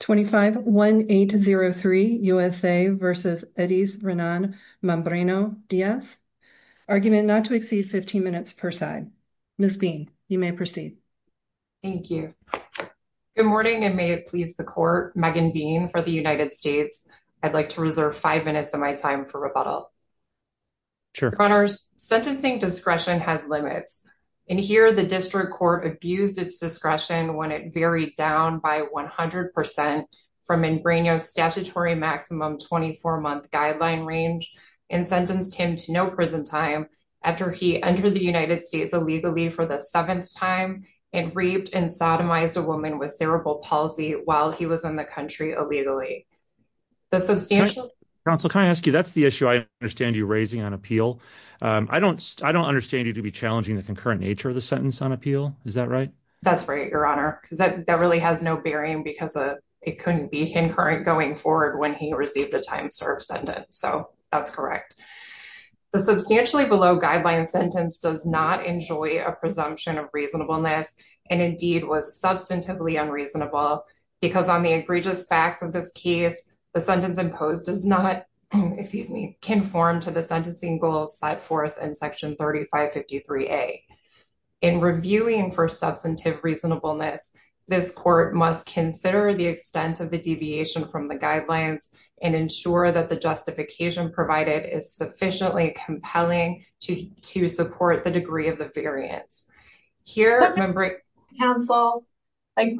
25-1803 USA v. Edys Renan Membreno Diaz Argument not to exceed 15 minutes per side. Ms. Bean, you may proceed. Thank you. Good morning, and may it please the court, Megan Bean for the United States. I'd like to reserve five minutes of my time for rebuttal. Sure. Sentencing discretion has limits. In here, the district court abused its discretion when it varied down by 100 percent from Membreno's statutory maximum 24-month guideline range and sentenced him to no prison time after he entered the United States illegally for the seventh time and raped and sodomized a woman with cerebral palsy while he was in the country illegally. The substantial... Counsel, can I ask you, that's the issue I understand you raising on appeal. I don't understand you to be challenging the concurrent nature of the sentence on appeal. Is that right? That's right, your honor, because that really has no bearing because it couldn't be concurrent going forward when he received a time served sentence, so that's correct. The substantially below guideline sentence does not enjoy a presumption of reasonableness and indeed was substantively unreasonable because on the egregious facts of this case, the sentence imposed does not, excuse me, conform to the sentencing goal set forth in section 3553A. In reviewing for substantive reasonableness, this court must consider the extent of the deviation from the guidelines and ensure that the justification provided is sufficiently compelling to support the degree of the variance. Here... Counsel, if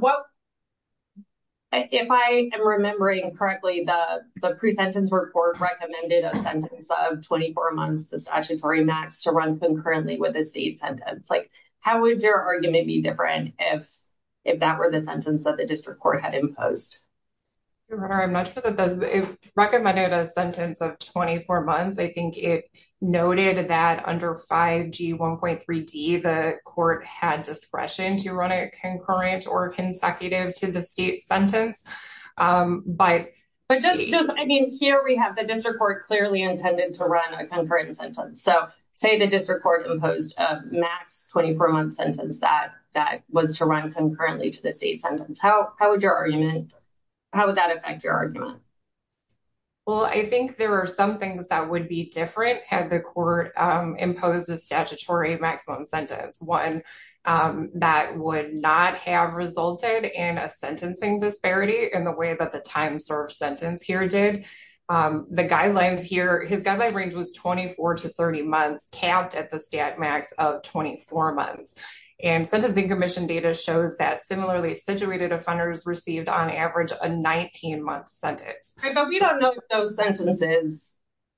I am remembering correctly, the pre-sentence report recommended a sentence of 24 months, the statutory max, to run concurrently with the state sentence. How would your argument be different if that were the sentence that the district court had imposed? Your honor, I'm not sure that it recommended a sentence of 24 months. I think it noted that under 5G 1.3d the court had discretion to run a concurrent or consecutive to the state sentence, but just, I mean, here we have the district court clearly intended to run a concurrent sentence. So, say the district court imposed a max 24 month sentence that was to run concurrently to the state sentence. How would your argument, how would that affect your argument? Well, I think there are some things that would be different had the court imposed a statutory maximum sentence, one that would not have resulted in a sentencing disparity in the way that the time served sentence here did. The guidelines here, his guideline range was 24 to 30 months, capped at the stat max of 24 months. And sentencing commission data shows that similarly situated offenders received on average a 19 month sentence. But we don't know if those sentences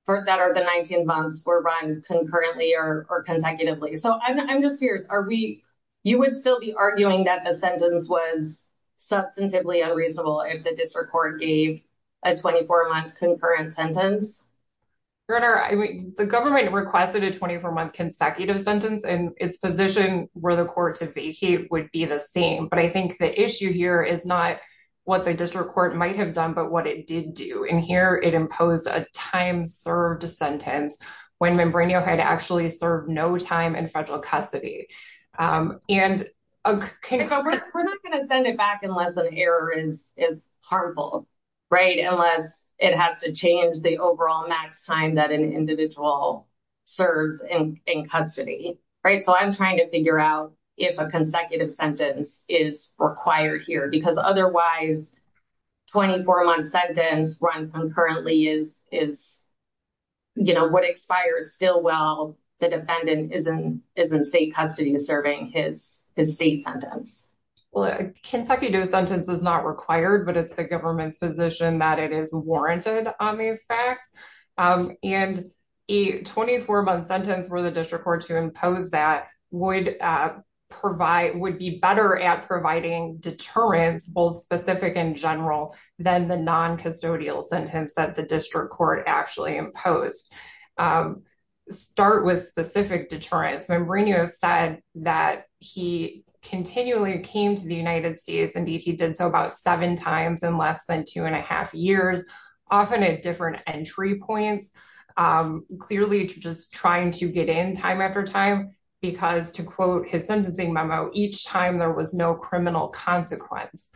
that are the 19 months were run concurrently or consecutively. So, I'm just curious, are we, you would still be arguing that the sentence was substantively unreasonable if the district court gave a 24 month concurrent sentence? Your honor, I mean, the government requested a 24 month consecutive sentence and its position where the court to vacate would be the same. But I think the issue here is not what the district court might have done, but what it did do. And here it imposed a time served sentence when Membranio had actually served no time in federal custody. And we're not going to send it back unless an error is is harmful, right? Unless it has to change the overall max time that an individual serves in custody, right? So, I'm trying to figure out if a consecutive sentence is required here. Because otherwise, 24 month sentence run concurrently is you know, would expire still while the defendant is in is in state custody serving his state sentence. Well, a consecutive sentence is not required, but it's the government's position that it is warranted on these facts. And a 24 month sentence for the district court to impose that would provide, would be better at providing deterrence, both specific and general, than the non-custodial sentence that the district court actually imposed. Start with specific deterrence. Membranio said that he continually came to the United States, indeed he did so about seven times in less than two and a half years, often at different entry points, clearly just trying to get in time after time, because to quote his sentencing memo, each time there was no criminal consequence.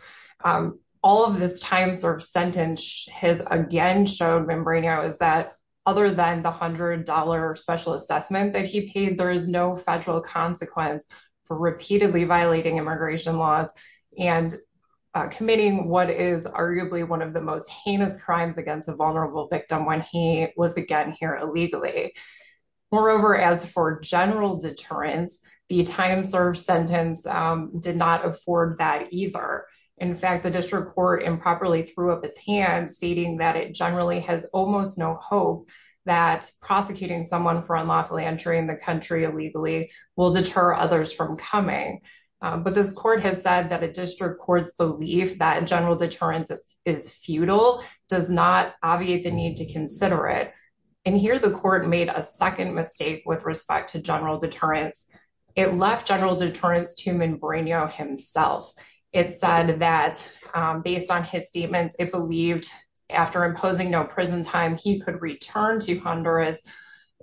All of this time served sentence has again shown Membranio is that other than the $100 special assessment that he paid, there is no federal consequence for repeatedly violating immigration laws and committing what is arguably one of the most heinous crimes against a vulnerable victim when he was again here illegally. Moreover, as for general deterrence, the time served sentence did not afford that either. In fact, the district court improperly threw up its hands stating that it generally has almost no hope that prosecuting someone for unlawfully entering the country illegally will deter others from coming. But this court has said that a district court's belief that general deterrence is futile does not obviate the need to consider it. And here the court made a second mistake with respect to general deterrence. It left general deterrence to Membranio himself. It said that based on his statements, it believed after imposing no prison time, he could return to Honduras,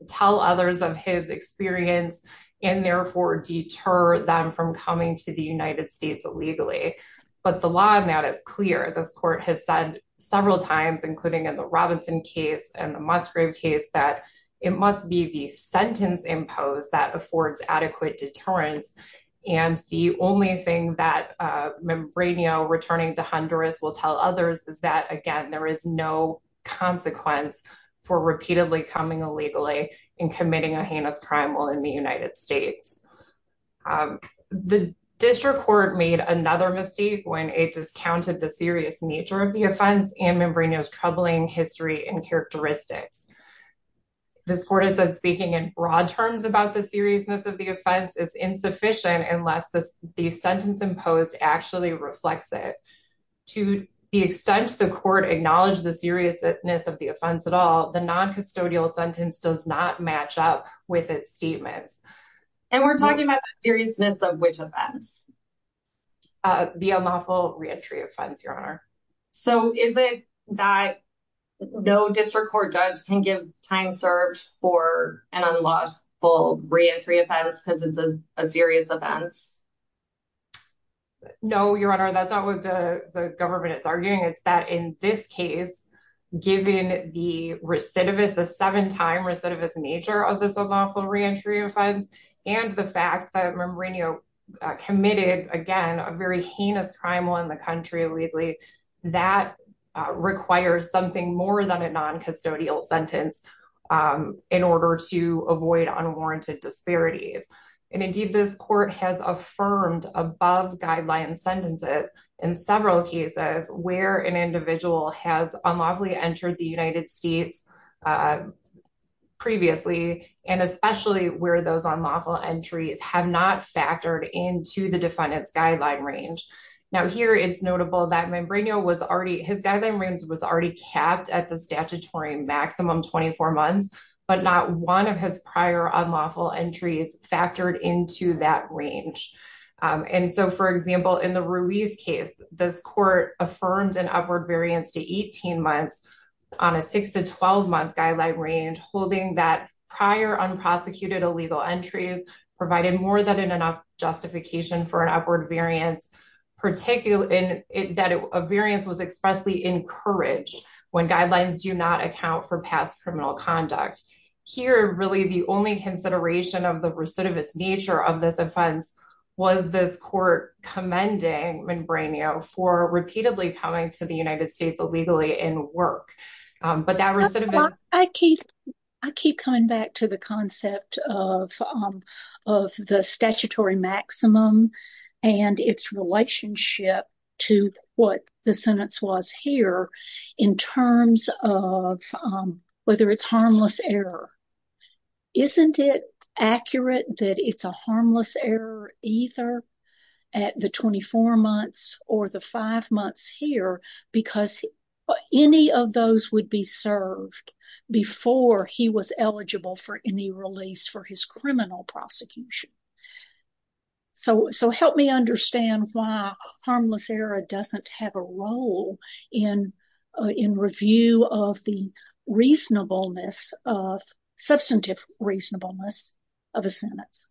tell others of his experience, and therefore deter them from coming to the United States illegally. But the law on that is clear. This court has said several times, including in the Robinson case and the Musgrave case, that it must be the sentence imposed that affords adequate deterrence. And the only thing that Membranio returning to Honduras will tell others is that, again, there is no consequence for repeatedly coming illegally and committing a heinous crime while in the United States. The district court made another mistake when it discounted the serious nature of the offense and Membranio's troubling history and characteristics. This court has said speaking in broad terms about the seriousness of the offense is insufficient unless the sentence imposed actually reflects it. To the extent the court acknowledged the seriousness of the offense at all, the non-custodial sentence does not match up with its statements. And we're talking about the seriousness of which offense? The unlawful re-entry offense, your honor. So is it that no district court judge can give time served for an unlawful re-entry offense because it's a serious offense? No, your honor. That's not what the government is arguing. It's that in this case, given the recidivist, the seven-time recidivist nature of this unlawful re-entry offense and the fact that Membranio committed, again, a very heinous crime while in the That requires something more than a non-custodial sentence in order to avoid unwarranted disparities. And indeed this court has affirmed above guideline sentences in several cases where an individual has unlawfully entered the United States previously and especially where those unlawful entries have not factored into the defendant's range. Now here it's notable that Membranio was already, his guideline range was already capped at the statutory maximum 24 months, but not one of his prior unlawful entries factored into that range. And so for example, in the Ruiz case, this court affirmed an upward variance to 18 months on a 6 to 12 month guideline range holding that prior unprosecuted illegal entries provided more than enough justification for an upward variance, particularly in that a variance was expressly encouraged when guidelines do not account for past criminal conduct. Here really the only consideration of the recidivist nature of this offense was this court commending Membranio for repeatedly coming to the United States illegally in work. But that recidivist... I keep coming back to the concept of the statutory maximum and its relationship to what the sentence was here in terms of whether it's harmless error. Isn't it accurate that it's a harmless error either at the 24 months or the five months here because any of those would be served before he was eligible for any release for his criminal prosecution? So help me understand why harmless error doesn't have a role in review of the reasonableness of substantive reasonableness of a sentence.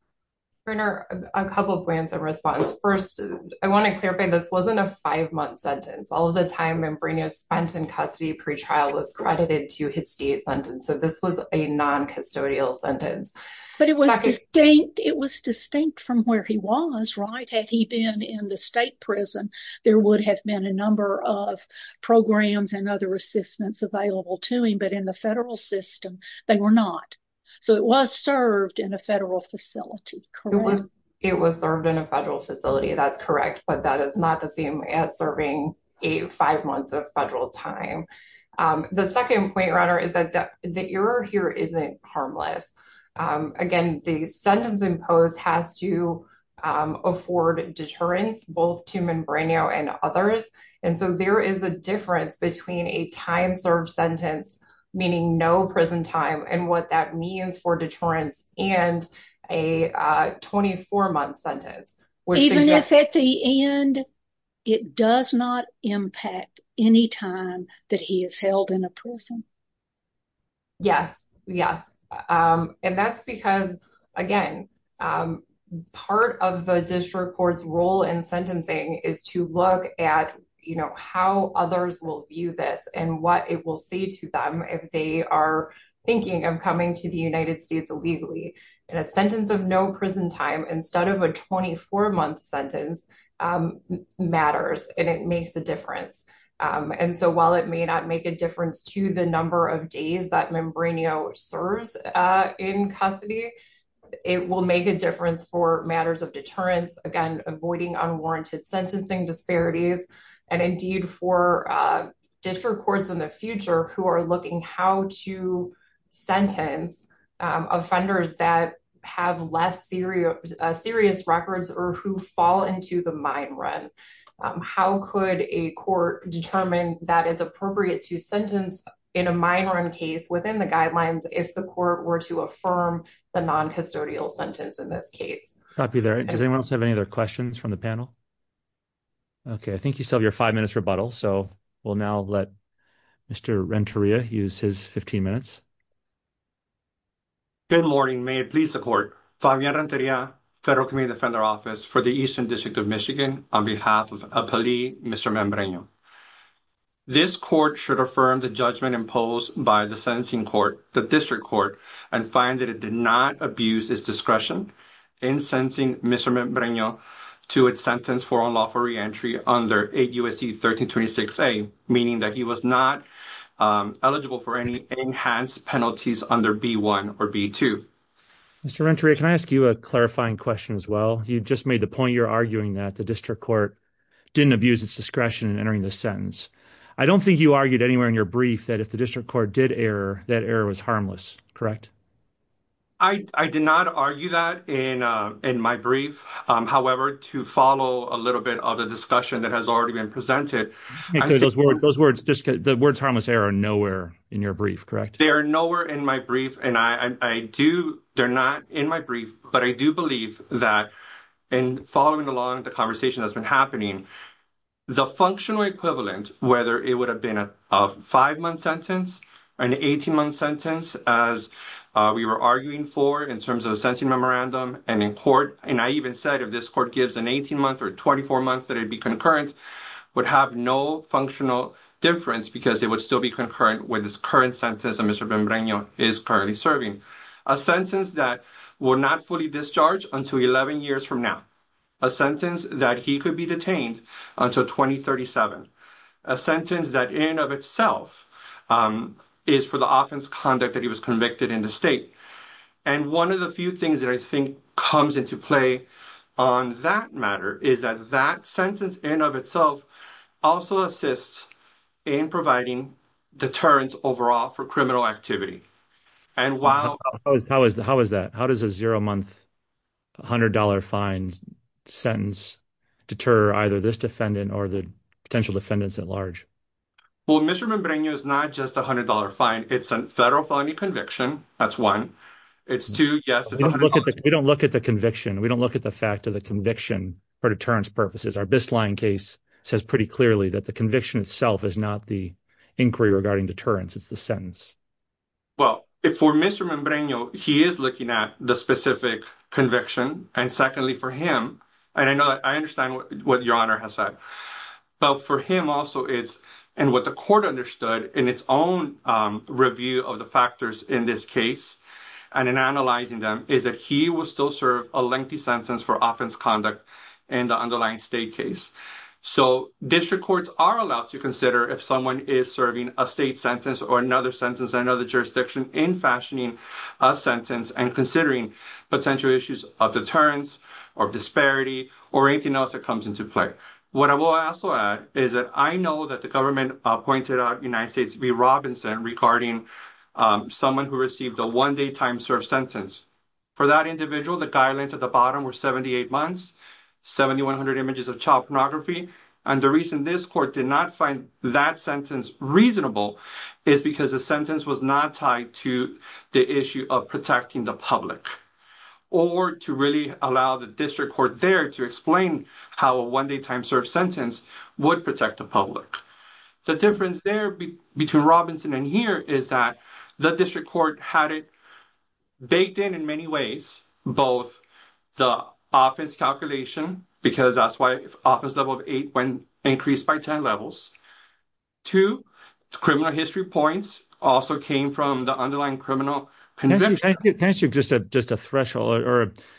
Brenner, a couple of points in response. First, I want to clarify this wasn't a five-month sentence. All of the time Brenner spent in custody pre-trial was credited to his state sentence. So this was a non-custodial sentence. But it was distinct. It was distinct from where he was, right? Had he been in the state prison, there would have been a number of programs and other assistance available to him. But in the federal system, they were not. So it was served in a federal facility, correct? It was served in a federal facility. That's correct. But that is not the same as serving a five months of federal time. The second point, Ronna, is that the error here isn't harmless. Again, the sentence imposed has to afford deterrence both to Membrano and others. And so there is a difference between a time-served sentence, meaning no prison time, and what that means for deterrence and a 24-month sentence. Even if at the end it does not impact any time that he is held in a prison? Yes. Yes. And that's because, again, part of the district court's role in sentencing is to look at how others will view this and what it will say to them if they are thinking of coming to the United States illegally. And a sentence of no prison time instead of a 24-month sentence matters, and it makes a difference. And so while it may not make a difference to the number of days that Membrano serves in custody, it will make a difference for matters of deterrence, again, avoiding unwarranted sentencing disparities, and indeed for district courts in the future who are looking how to sentence offenders that have less serious records or who fall into the mine run. How could a court determine that it's appropriate to sentence in a mine run case within the guidelines if the court were to affirm the non-custodial sentence in this case? Copy that. Does anyone else have any other questions from the panel? Okay, I think you still have your five minutes rebuttal, so we'll now let Mr. Renteria use his 15 minutes. Good morning. May it please the court, Fabian Renteria, Federal Committee Defender Office for the Eastern District of Michigan, on behalf of a plea, Mr. Membrano. This court should affirm the judgment imposed by the sentencing court, the district court, and find that it did not abuse its discretion in sentencing Mr. Membrano to its sentence for unlawful reentry under 8 U.S.C. 1326A, meaning that he was not eligible for any enhanced penalties under B-1 or B-2. Mr. Renteria, can I ask you a clarifying question as well? You just made the point you're arguing that the district court didn't abuse its discretion in entering the sentence. I don't think you argued anywhere in your brief that if the district court did error, that error was harmless, correct? I did not argue that in my brief. However, to follow a little bit of the discussion that has already been presented— Those words, the words harmless error are nowhere in your brief, correct? They are nowhere in my brief, and I do, they're not in my brief, but I do believe that in following along the conversation that's been happening, the functional equivalent, whether it would have been a five-month sentence, an 18-month sentence as we were arguing for in terms of a sentencing memorandum, and in court, and I even said if this court gives an 18-month or 24-month that it'd be concurrent, would have no functional difference because it would still be concurrent with this current sentence that Mr. Membrano is currently serving. A sentence that will not fully discharge until 11 years from now. A sentence that he could be detained until 2037. A sentence that in of itself is for the offense conduct that he was convicted in the state. One of the few things that I think comes into play on that matter is that that sentence in of itself also assists in providing deterrence overall for criminal activity. How is that? How does a zero-month, $100 fine sentence deter either this defendant or the potential defendants at large? Well, Mr. Membrano is not just a $100 fine. It's a federal felony conviction. That's one. It's two, yes. We don't look at the conviction. We don't look at the fact of the conviction for deterrence purposes. Our Bistline case says pretty clearly that the conviction itself is not the inquiry regarding deterrence. It's the sentence. Well, for Mr. Membrano, he is looking at the specific conviction. And secondly for him, and I know that I understand what your honor has said, but for him also it's, and what the court understood in its own review of the factors in this case and in analyzing them is that he will still serve a lengthy sentence for offense conduct in the underlying state case. So district courts are allowed to consider if someone is serving a state sentence or another sentence, another jurisdiction in fashioning a sentence and considering potential issues of deterrence or disparity or anything else that comes into play. What I will also add is that I know that the government pointed out United States v. Robinson regarding someone who received a one day time served sentence. For that individual, the guidelines at the bottom were 78 months, 7,100 images of child pornography. And the reason this court did not find that sentence reasonable is because the sentence was not tied to the issue of protecting the public or to really allow the district court there to explain how a one day time served sentence would protect the public. The difference there between Robinson and here is that the district court had it baked in in many ways, both the offense calculation, because that's why office level of eight when increased by 10 levels to criminal history points also came from the threshold.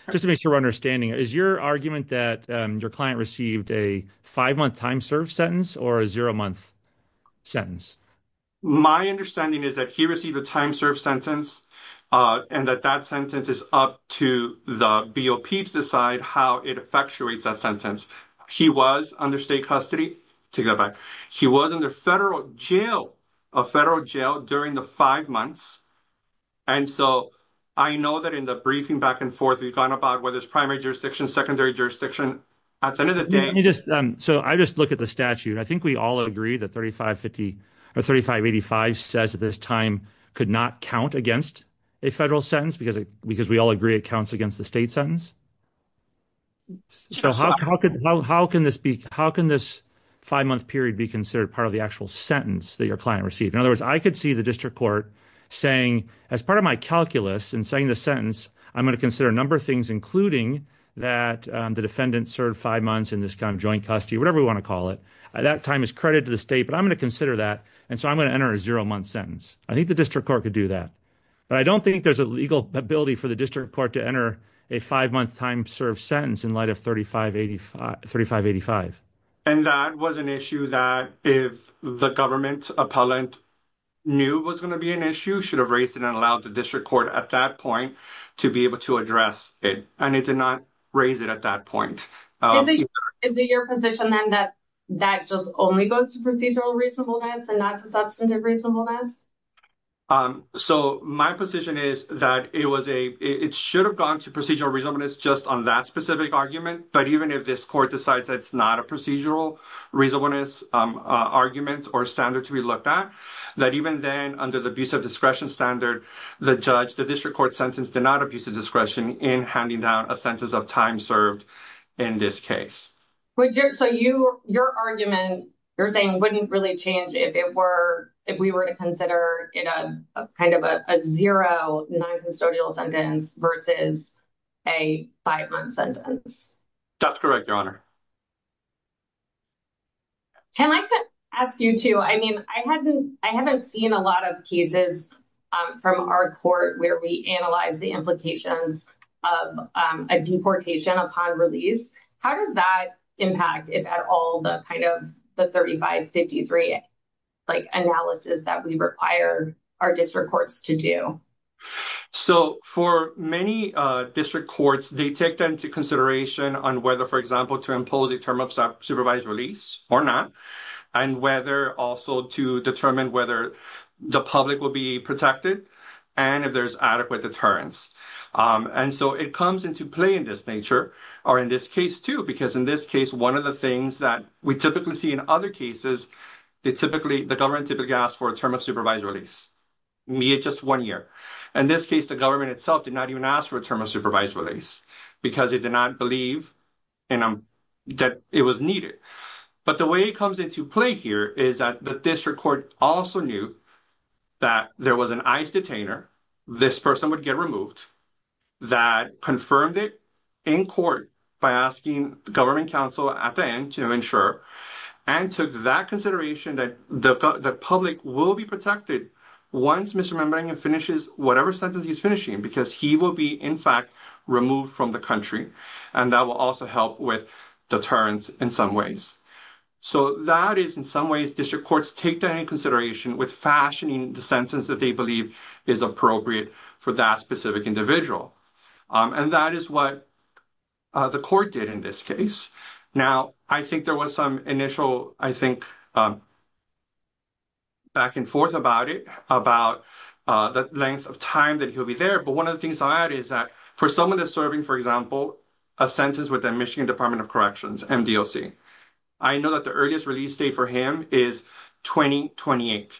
Just to make sure we're understanding, is your argument that your client received a five month time served sentence or a zero month sentence? My understanding is that he received a time served sentence and that that sentence is up to the BOP to decide how it effectuates that sentence. He was under state custody. He was in the federal jail, a federal jail during the five months. And so I know that in the briefing back and forth we've gone about whether it's primary jurisdiction, secondary jurisdiction at the end of the day. So I just look at the statute. I think we all agree that 3550 or 3585 says that this time could not count against a federal sentence because because we all agree it counts against the state sentence. So how could how can this be? How can this five month period be considered part of the actual sentence that your client received? In other words, I could see the district court saying, as part of my calculus and saying the sentence, I'm going to consider a number of things, including that the defendant served five months in this kind of joint custody, whatever we want to call it. That time is credit to the state, but I'm going to consider that. And so I'm going to enter a zero month sentence. I think the district court could do that, but I don't think there's a legal ability for the district court to enter a five month time served sentence in light of 3585, 3585. And that was an issue that if the government appellant knew was going to be an issue, should have raised it and allowed the district court at that point to be able to address it. And it did not raise it at that point. Is it your position then that that just only goes to procedural reasonableness and not to substantive reasonableness? So my position is that it was a it should have gone to procedural reasonableness just on that specific argument. But even if this court decides it's not a argument or standard to be looked at, that even then under the abuse of discretion standard, the judge, the district court sentence did not abuse the discretion in handing down a sentence of time served in this case. So your argument, you're saying wouldn't really change if it were, if we were to consider it a kind of a zero noncustodial sentence versus a five month sentence. That's correct, your honor. Can I ask you too? I mean, I hadn't, I haven't seen a lot of pieces from our court where we analyze the implications of a deportation upon release. How does that impact if at all the kind of the 3553 like analysis that we require our district courts to do? So for many district courts, they take that into consideration on whether, for example, to impose a term of supervised release or not, and whether also to determine whether the public will be protected and if there's adequate deterrence. And so it comes into play in this nature or in this case too, because in this case, one of the things that we typically see in other cases, they typically, the government typically ask for a term of supervised release, be it just one year. In this case, the government itself did not even ask for a term of supervised release because it did not believe that it was needed. But the way it comes into play here is that the district court also knew that there was an ICE detainer, this person would get removed, that confirmed it in court by asking the government counsel at the end to ensure, and took that consideration that the public will be protected once Mr. Manbangan finishes whatever sentence he's finishing, because he will be in fact removed from the country. And that will also help with deterrence in some ways. So that is in some ways district courts take that into consideration with fashioning the sentence that they believe is appropriate for that specific individual. And that is what the court did in this case. Now, I think there was some initial, I think, back and forth about it, about the length of time that he'll be there. But one of the things I add is that for someone that's serving, for example, a sentence with the Michigan Department of Corrections, MDOC, I know that the earliest release date for him is 2028.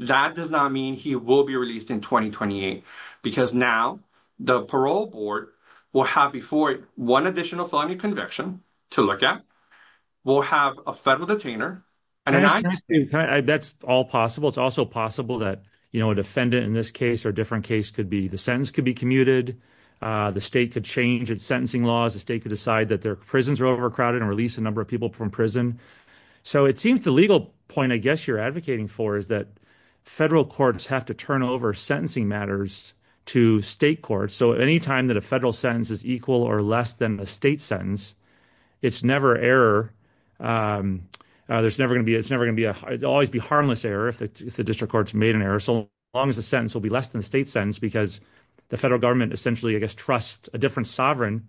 That does not mean he will be released in 2028, because now the parole board will have before it one additional felony conviction to look at. We'll have a federal detainer. That's all possible. It's also possible that, you know, a defendant in this case or a different case could be, the sentence could be commuted, the state could change its sentencing laws, the state could decide that their prisons are overcrowded and release a number of people from prison. So it seems the legal point I guess you're advocating for is that federal courts have to turn over sentencing matters to state courts. So anytime that a federal sentence is equal or less than the state sentence, it's never error. There's never going to be, it's never going to be a, it'll always be harmless error if the district court's made an error. So long as the sentence will be less than the state sentence, because the federal government essentially, I guess, trusts a different sovereign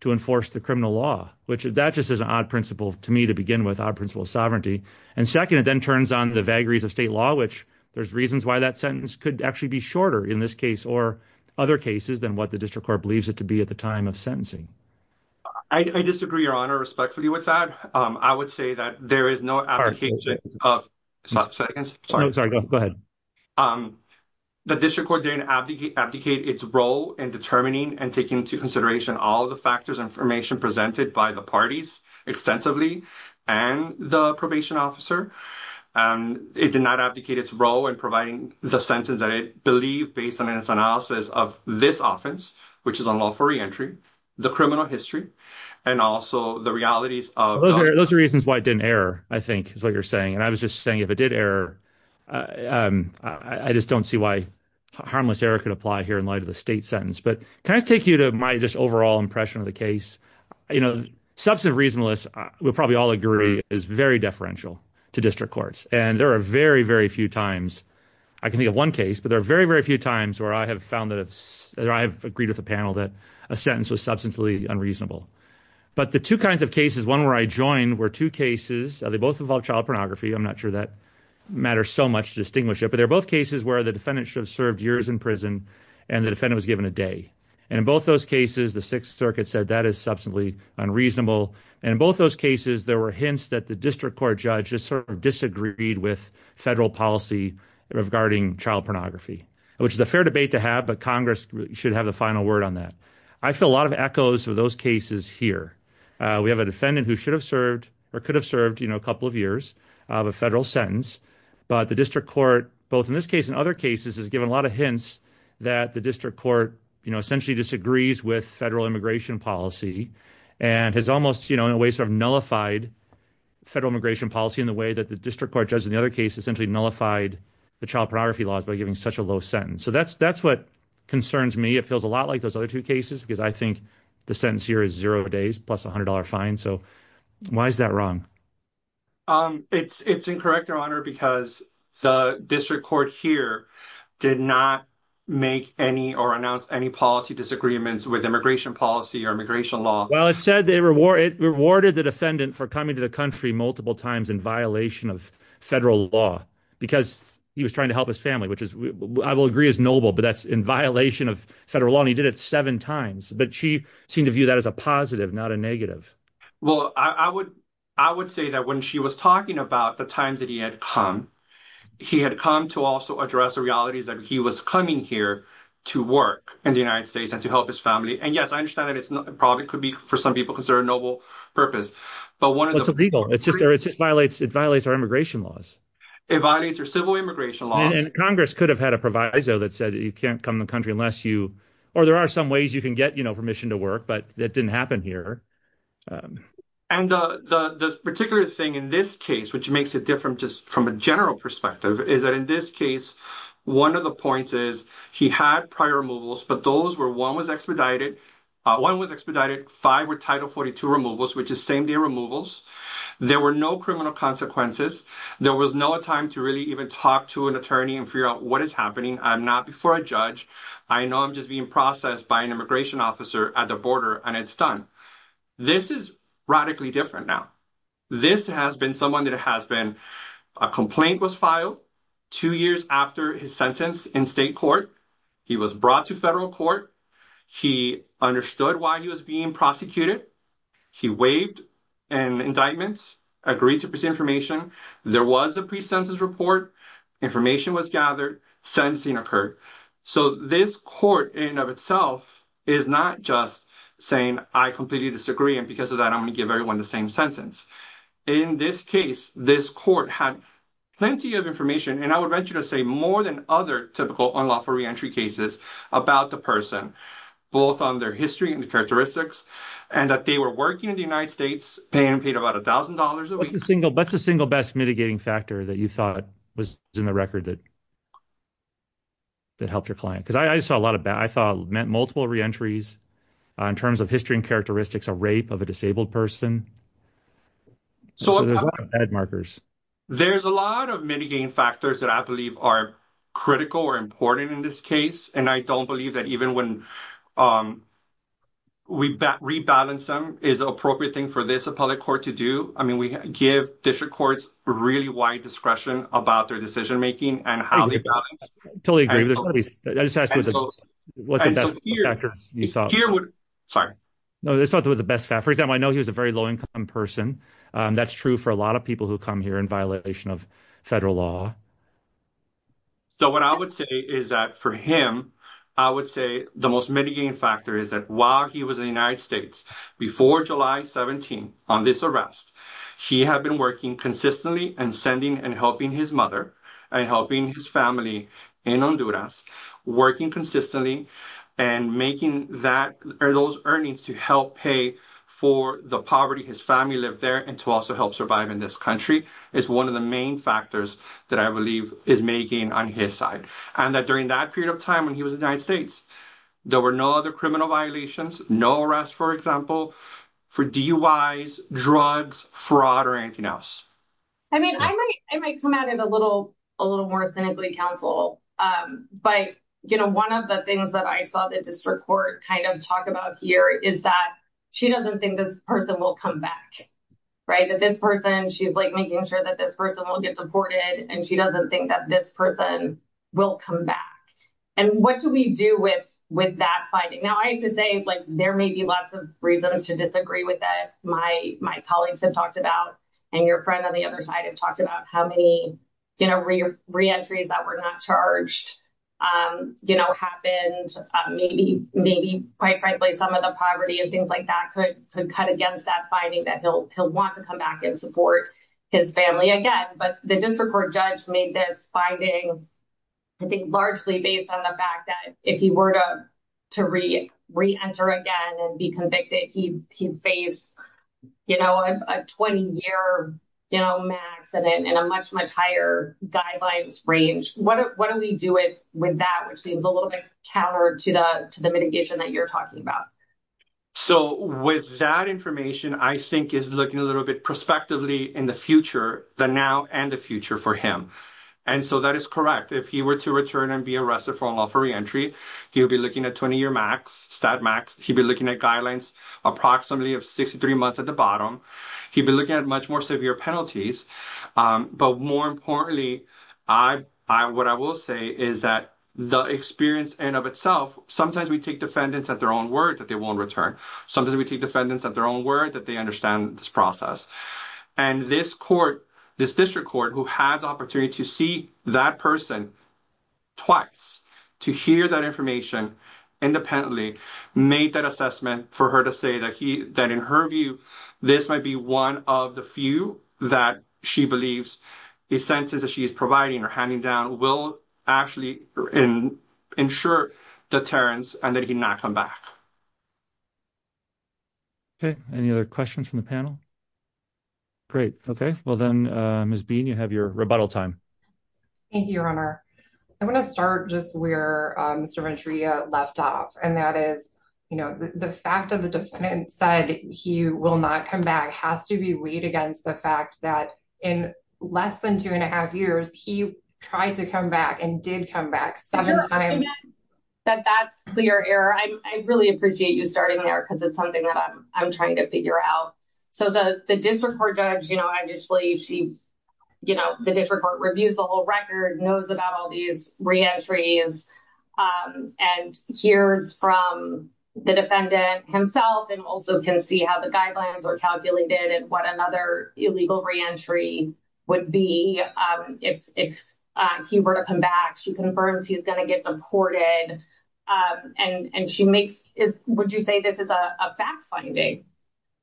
to enforce the criminal law, which that just is an odd principle to me to begin with, odd principle of sovereignty. And second, it then turns on the vagaries of state law, which there's reasons why that sentence could actually be shorter in this case or other cases than what the district court believes it to be at the time of sentencing. I disagree, Your Honor, respectfully with that. I would say that there is no application of sentence. No, sorry, go ahead. The district court didn't abdicate its role in determining and taking into consideration all the factors and information presented by the parties extensively and the probation officer. It did not abdicate its role in providing the sentence that it believed based on its analysis of this offense, which is unlawful reentry, the criminal history, and also the realities of- Those are the reasons why it didn't error, I think, is what you're saying. And I was just saying if it did error, I just don't see why harmless error could apply here in light of the state sentence. But can I just take you to my just overall impression of the case? Substantive reasonableness, we'll probably all agree, is very deferential to district courts. And there are very, very few times, I can think of one case, but there are very, very few times where I have found that I've agreed with a panel that a sentence was substantially unreasonable. But the two kinds of cases, one where I joined, were two cases. They both involved child pornography. I'm not sure that matters so much to distinguish it. But they're both cases where the defendant should have served years in prison and the Sixth Circuit said that is substantively unreasonable. And in both those cases, there were hints that the district court judge just sort of disagreed with federal policy regarding child pornography, which is a fair debate to have, but Congress should have the final word on that. I feel a lot of echoes of those cases here. We have a defendant who should have served or could have served a couple of years of a federal sentence, but the district court, both in this case and other cases, has given a lot of hints that the district court essentially disagrees with federal immigration policy and has almost, in a way, sort of nullified federal immigration policy in the way that the district court judge in the other case essentially nullified the child pornography laws by giving such a low sentence. So that's what concerns me. It feels a lot like those other two cases because I think the sentence here is zero days plus a $100 fine. So why is that wrong? It's incorrect, Your Honor, because the district court here did not make any or announce any policy disagreements with immigration policy or immigration law. Well, it said they rewarded the defendant for coming to the country multiple times in violation of federal law because he was trying to help his family, which I will agree is noble, but that's in violation of federal law. And he did it seven times. But she seemed to view that as a positive, not a negative. Well, I would say that when she was talking about the times that he had come, he had come to also address the realities that he was coming here to work in the United States and to help his family. And yes, I understand that it probably could be for some people because they're a noble purpose, but one of the people it's just there, it just violates, it violates our immigration laws. It violates your civil immigration law. And Congress could have had a proviso that said you can't come to the country unless you, or there are some ways you can get permission to work, but that didn't happen here. And the particular thing in this case, which makes it different just from a general perspective is that in this case, one of the points is he had prior removals, but those were one was expedited. One was expedited, five were Title 42 removals, which is same day removals. There were no criminal consequences. There was no time to really even talk to an attorney and figure out what is happening. I'm not before a judge. I know I'm just being processed by an immigration officer at the border and it's done. This is radically different now. This has been someone that has been, a complaint was filed two years after his sentence in state court. He was brought to federal court. He understood why he was being prosecuted. He waived an indictment, agreed to present information. There was a pre-sentence report. Information was gathered, sentencing occurred. So this court in itself is not just saying I completely disagree. And because of that, I'm going to give everyone the same sentence. In this case, this court had plenty of information. And I would venture to say more than other typical unlawful reentry cases about the person, both on their history and characteristics and that they were working in the United States, paying paid about a thousand dollars a week. What's the single best mitigating factor that you thought was in the record that that helped your client? Because I saw a lot of bad, I thought meant multiple reentries in terms of history and characteristics, a rape of a disabled person. So there's a lot of bad markers. There's a lot of mitigating factors that I believe are critical or important in this case. And I don't believe that even when we rebalance them is appropriate thing for this appellate court to do. I mean, we give district really wide discretion about their decision making and how they balance. I totally agree. I just asked you what the best factors you thought. Sorry. No, I thought it was the best. For example, I know he was a very low income person. That's true for a lot of people who come here in violation of federal law. So what I would say is that for him, I would say the most mitigating factor is that while he was in the United States before July 17, on this arrest, he had been working consistently and sending and helping his mother and helping his family in Honduras, working consistently and making those earnings to help pay for the poverty, his family lived there and to also help survive in this country is one of the main factors that I believe is making on his side. And that during that period of time when he was in the United States, there were no other criminal violations, no arrest, for example, for DUIs, drugs, fraud or anything else. I mean, I might I might come out in a little a little more cynically counsel, but, you know, one of the things that I saw the district court kind of talk about here is that she doesn't think this person will come back, right? That this person she's like making sure that this person will get deported and she doesn't think that this person will come back. And what do we do with with that finding? Now, I have to say, like, there may be lots of reasons to disagree with that. My my colleagues have talked about and your friend on the other side have talked about how many, you know, reentries that were not charged, you know, happened. Maybe maybe, quite frankly, some of the poverty and things like that could could cut against that finding that he'll he'll want to come back and support his family again. But the district court judge made this finding, I think, largely based on the fact that if he were to to re reenter again and be convicted, he he'd face, you know, a 20 year, you know, max and a much, much higher guidelines range. What what do we do with with that, which seems a little bit counter to the to the mitigation that you're talking about? So with that information, I think is looking a little bit prospectively in the future, the now and the future for him. And so that is correct. If he were to return and be arrested for unlawful reentry, he would be looking at 20 year max stat max. He'd be looking at guidelines approximately of 63 months at the bottom. He'd be looking at much more severe penalties. But more importantly, I I what I will say is that the experience and of itself, sometimes we take defendants at their own word that they won't return. Sometimes we take defendants at their word that they understand this process. And this court, this district court who had the opportunity to see that person twice to hear that information independently made that assessment for her to say that he that in her view, this might be one of the few that she believes the sentences that she is providing or handing down will actually ensure deterrence and that he not come back. Okay. Any other questions from the panel? Great. Okay. Well, then, Ms Bean, you have your rebuttal time. Thank you, Your Honor. I want to start just where Mr Venturia left off, and that is, you know, the fact of the defendant said he will not come back has to be weighed against the fact that in less than two and a half years, he tried to come back and did come back seven times. But that's clear error. I really appreciate you starting there because it's something that I'm trying to figure out. So the district court judge, you know, initially, she, you know, the district court reviews the whole record, knows about all these reentries and hears from the defendant himself and also can see how the guidelines are calculated and what illegal reentry would be if he were to come back. She confirms he's going to get deported, and she makes, would you say this is a fact-finding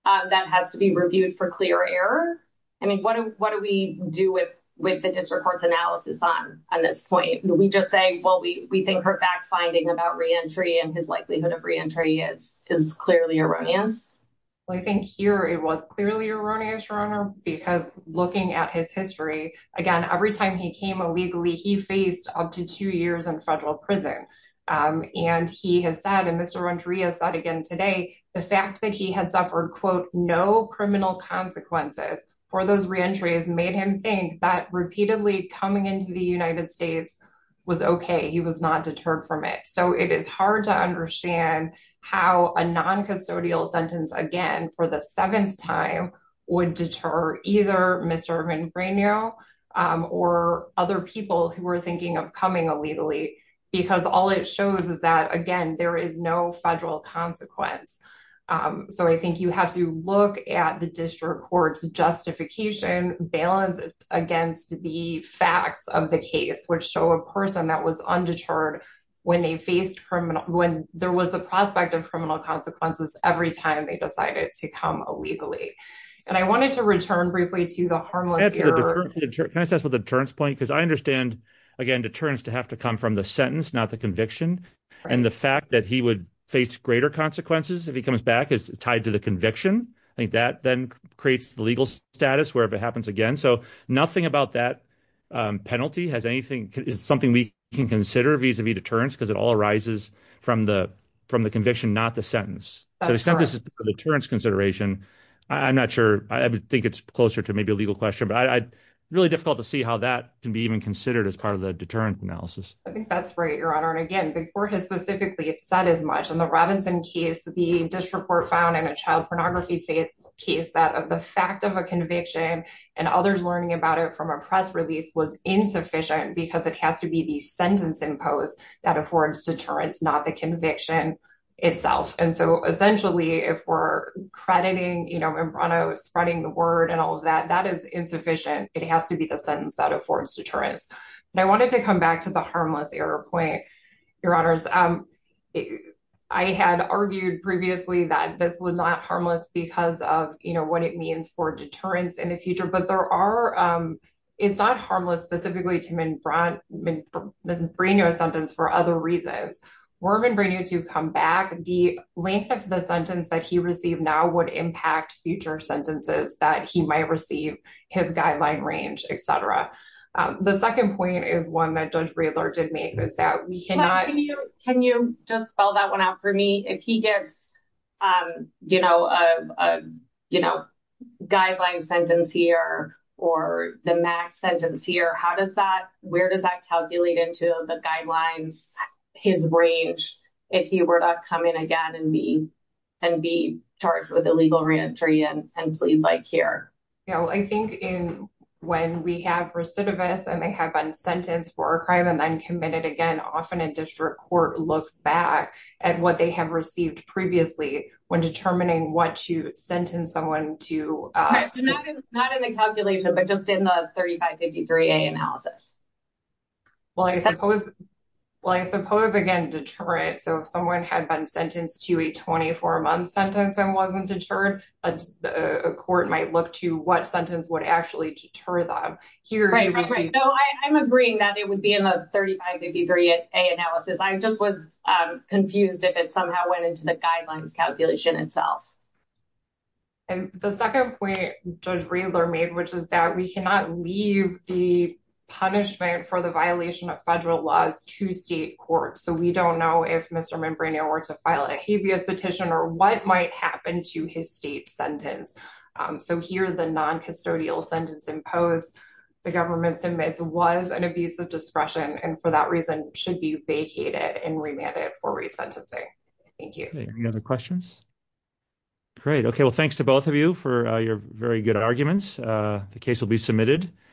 that has to be reviewed for clear error? I mean, what do we do with the district court's analysis on this point? Do we just say, well, we think her fact-finding about reentry and his likelihood of reentry is clearly erroneous? Well, I think here it was clearly erroneous, Your Honor, because looking at his history, again, every time he came illegally, he faced up to two years in federal prison. And he has said, and Mr. Rondria said again today, the fact that he had suffered, quote, no criminal consequences for those reentries made him think that repeatedly coming into the United States was okay. He was not deterred from it. So it is hard to understand how a non-custodial sentence, again, for the seventh time would deter either Mr. Rondria or other people who were thinking of coming illegally, because all it shows is that, again, there is no federal consequence. So I think you have to look at the district court's justification balance against the facts of the case, which show a person that was undeterred when there was the prospect of consequences every time they decided to come illegally. And I wanted to return briefly to the harmless error. Can I just ask about the deterrence point? Because I understand, again, deterrence to have to come from the sentence, not the conviction. And the fact that he would face greater consequences if he comes back is tied to the conviction. I think that then creates the legal status wherever it happens again. So nothing about that penalty has anything, is something we can consider vis-a-vis deterrence, because it all arises from the conviction, not the sentence. So the sentence is for deterrence consideration. I'm not sure. I think it's closer to maybe a legal question. But it's really difficult to see how that can be even considered as part of the deterrent analysis. I think that's right, Your Honor. And again, the court has specifically said as much. In the Robinson case, the district court found in a child pornography case that the fact of a conviction and others learning about it from a press release was insufficient because it has to be the sentence imposed that affords deterrence, not the conviction itself. And so essentially, if we're crediting Mimbrano, spreading the word and all of that, that is insufficient. It has to be the sentence that affords deterrence. And I wanted to come back to the harmless error point, Your Honors. I had argued previously that this was not harmless because of what it means for deterrence in the case. The length of the sentence that he received now would impact future sentences that he might receive, his guideline range, etc. The second point is one that Judge Breedler did make. Can you just spell that one out for me? If he gets a guideline sentence here or the max sentence here, where does that calculate into the guidelines, his range, if he were to come in again and be charged with illegal reentry and plead like here? I think when we have recidivists and they have been sentenced for a crime and then committed again, often a district court looks back at what they have received previously when determining what to sentence someone to. Not in the calculation, but just in the 3553A analysis. Well, I suppose, again, deterrent. So if someone had been sentenced to a 24-month sentence and wasn't deterred, a court might look to what sentence would actually deter them. I'm agreeing that it would be in the 3553A analysis. I just was confused if it somehow went into the guidelines calculation itself. And the second point Judge Breedler made, which is that we cannot leave the punishment for the violation of federal laws to state courts. So we don't know if Mr. Membraneo were to file a habeas petition or what might happen to his state sentence. So here, the noncustodial sentence imposed, the government submits was an abuse of discretion and for that reason should be vacated and remanded for resentencing. Thank you. Any other questions? Great. Okay. Well, thanks to both of you for your very good arguments. The case will be submitted.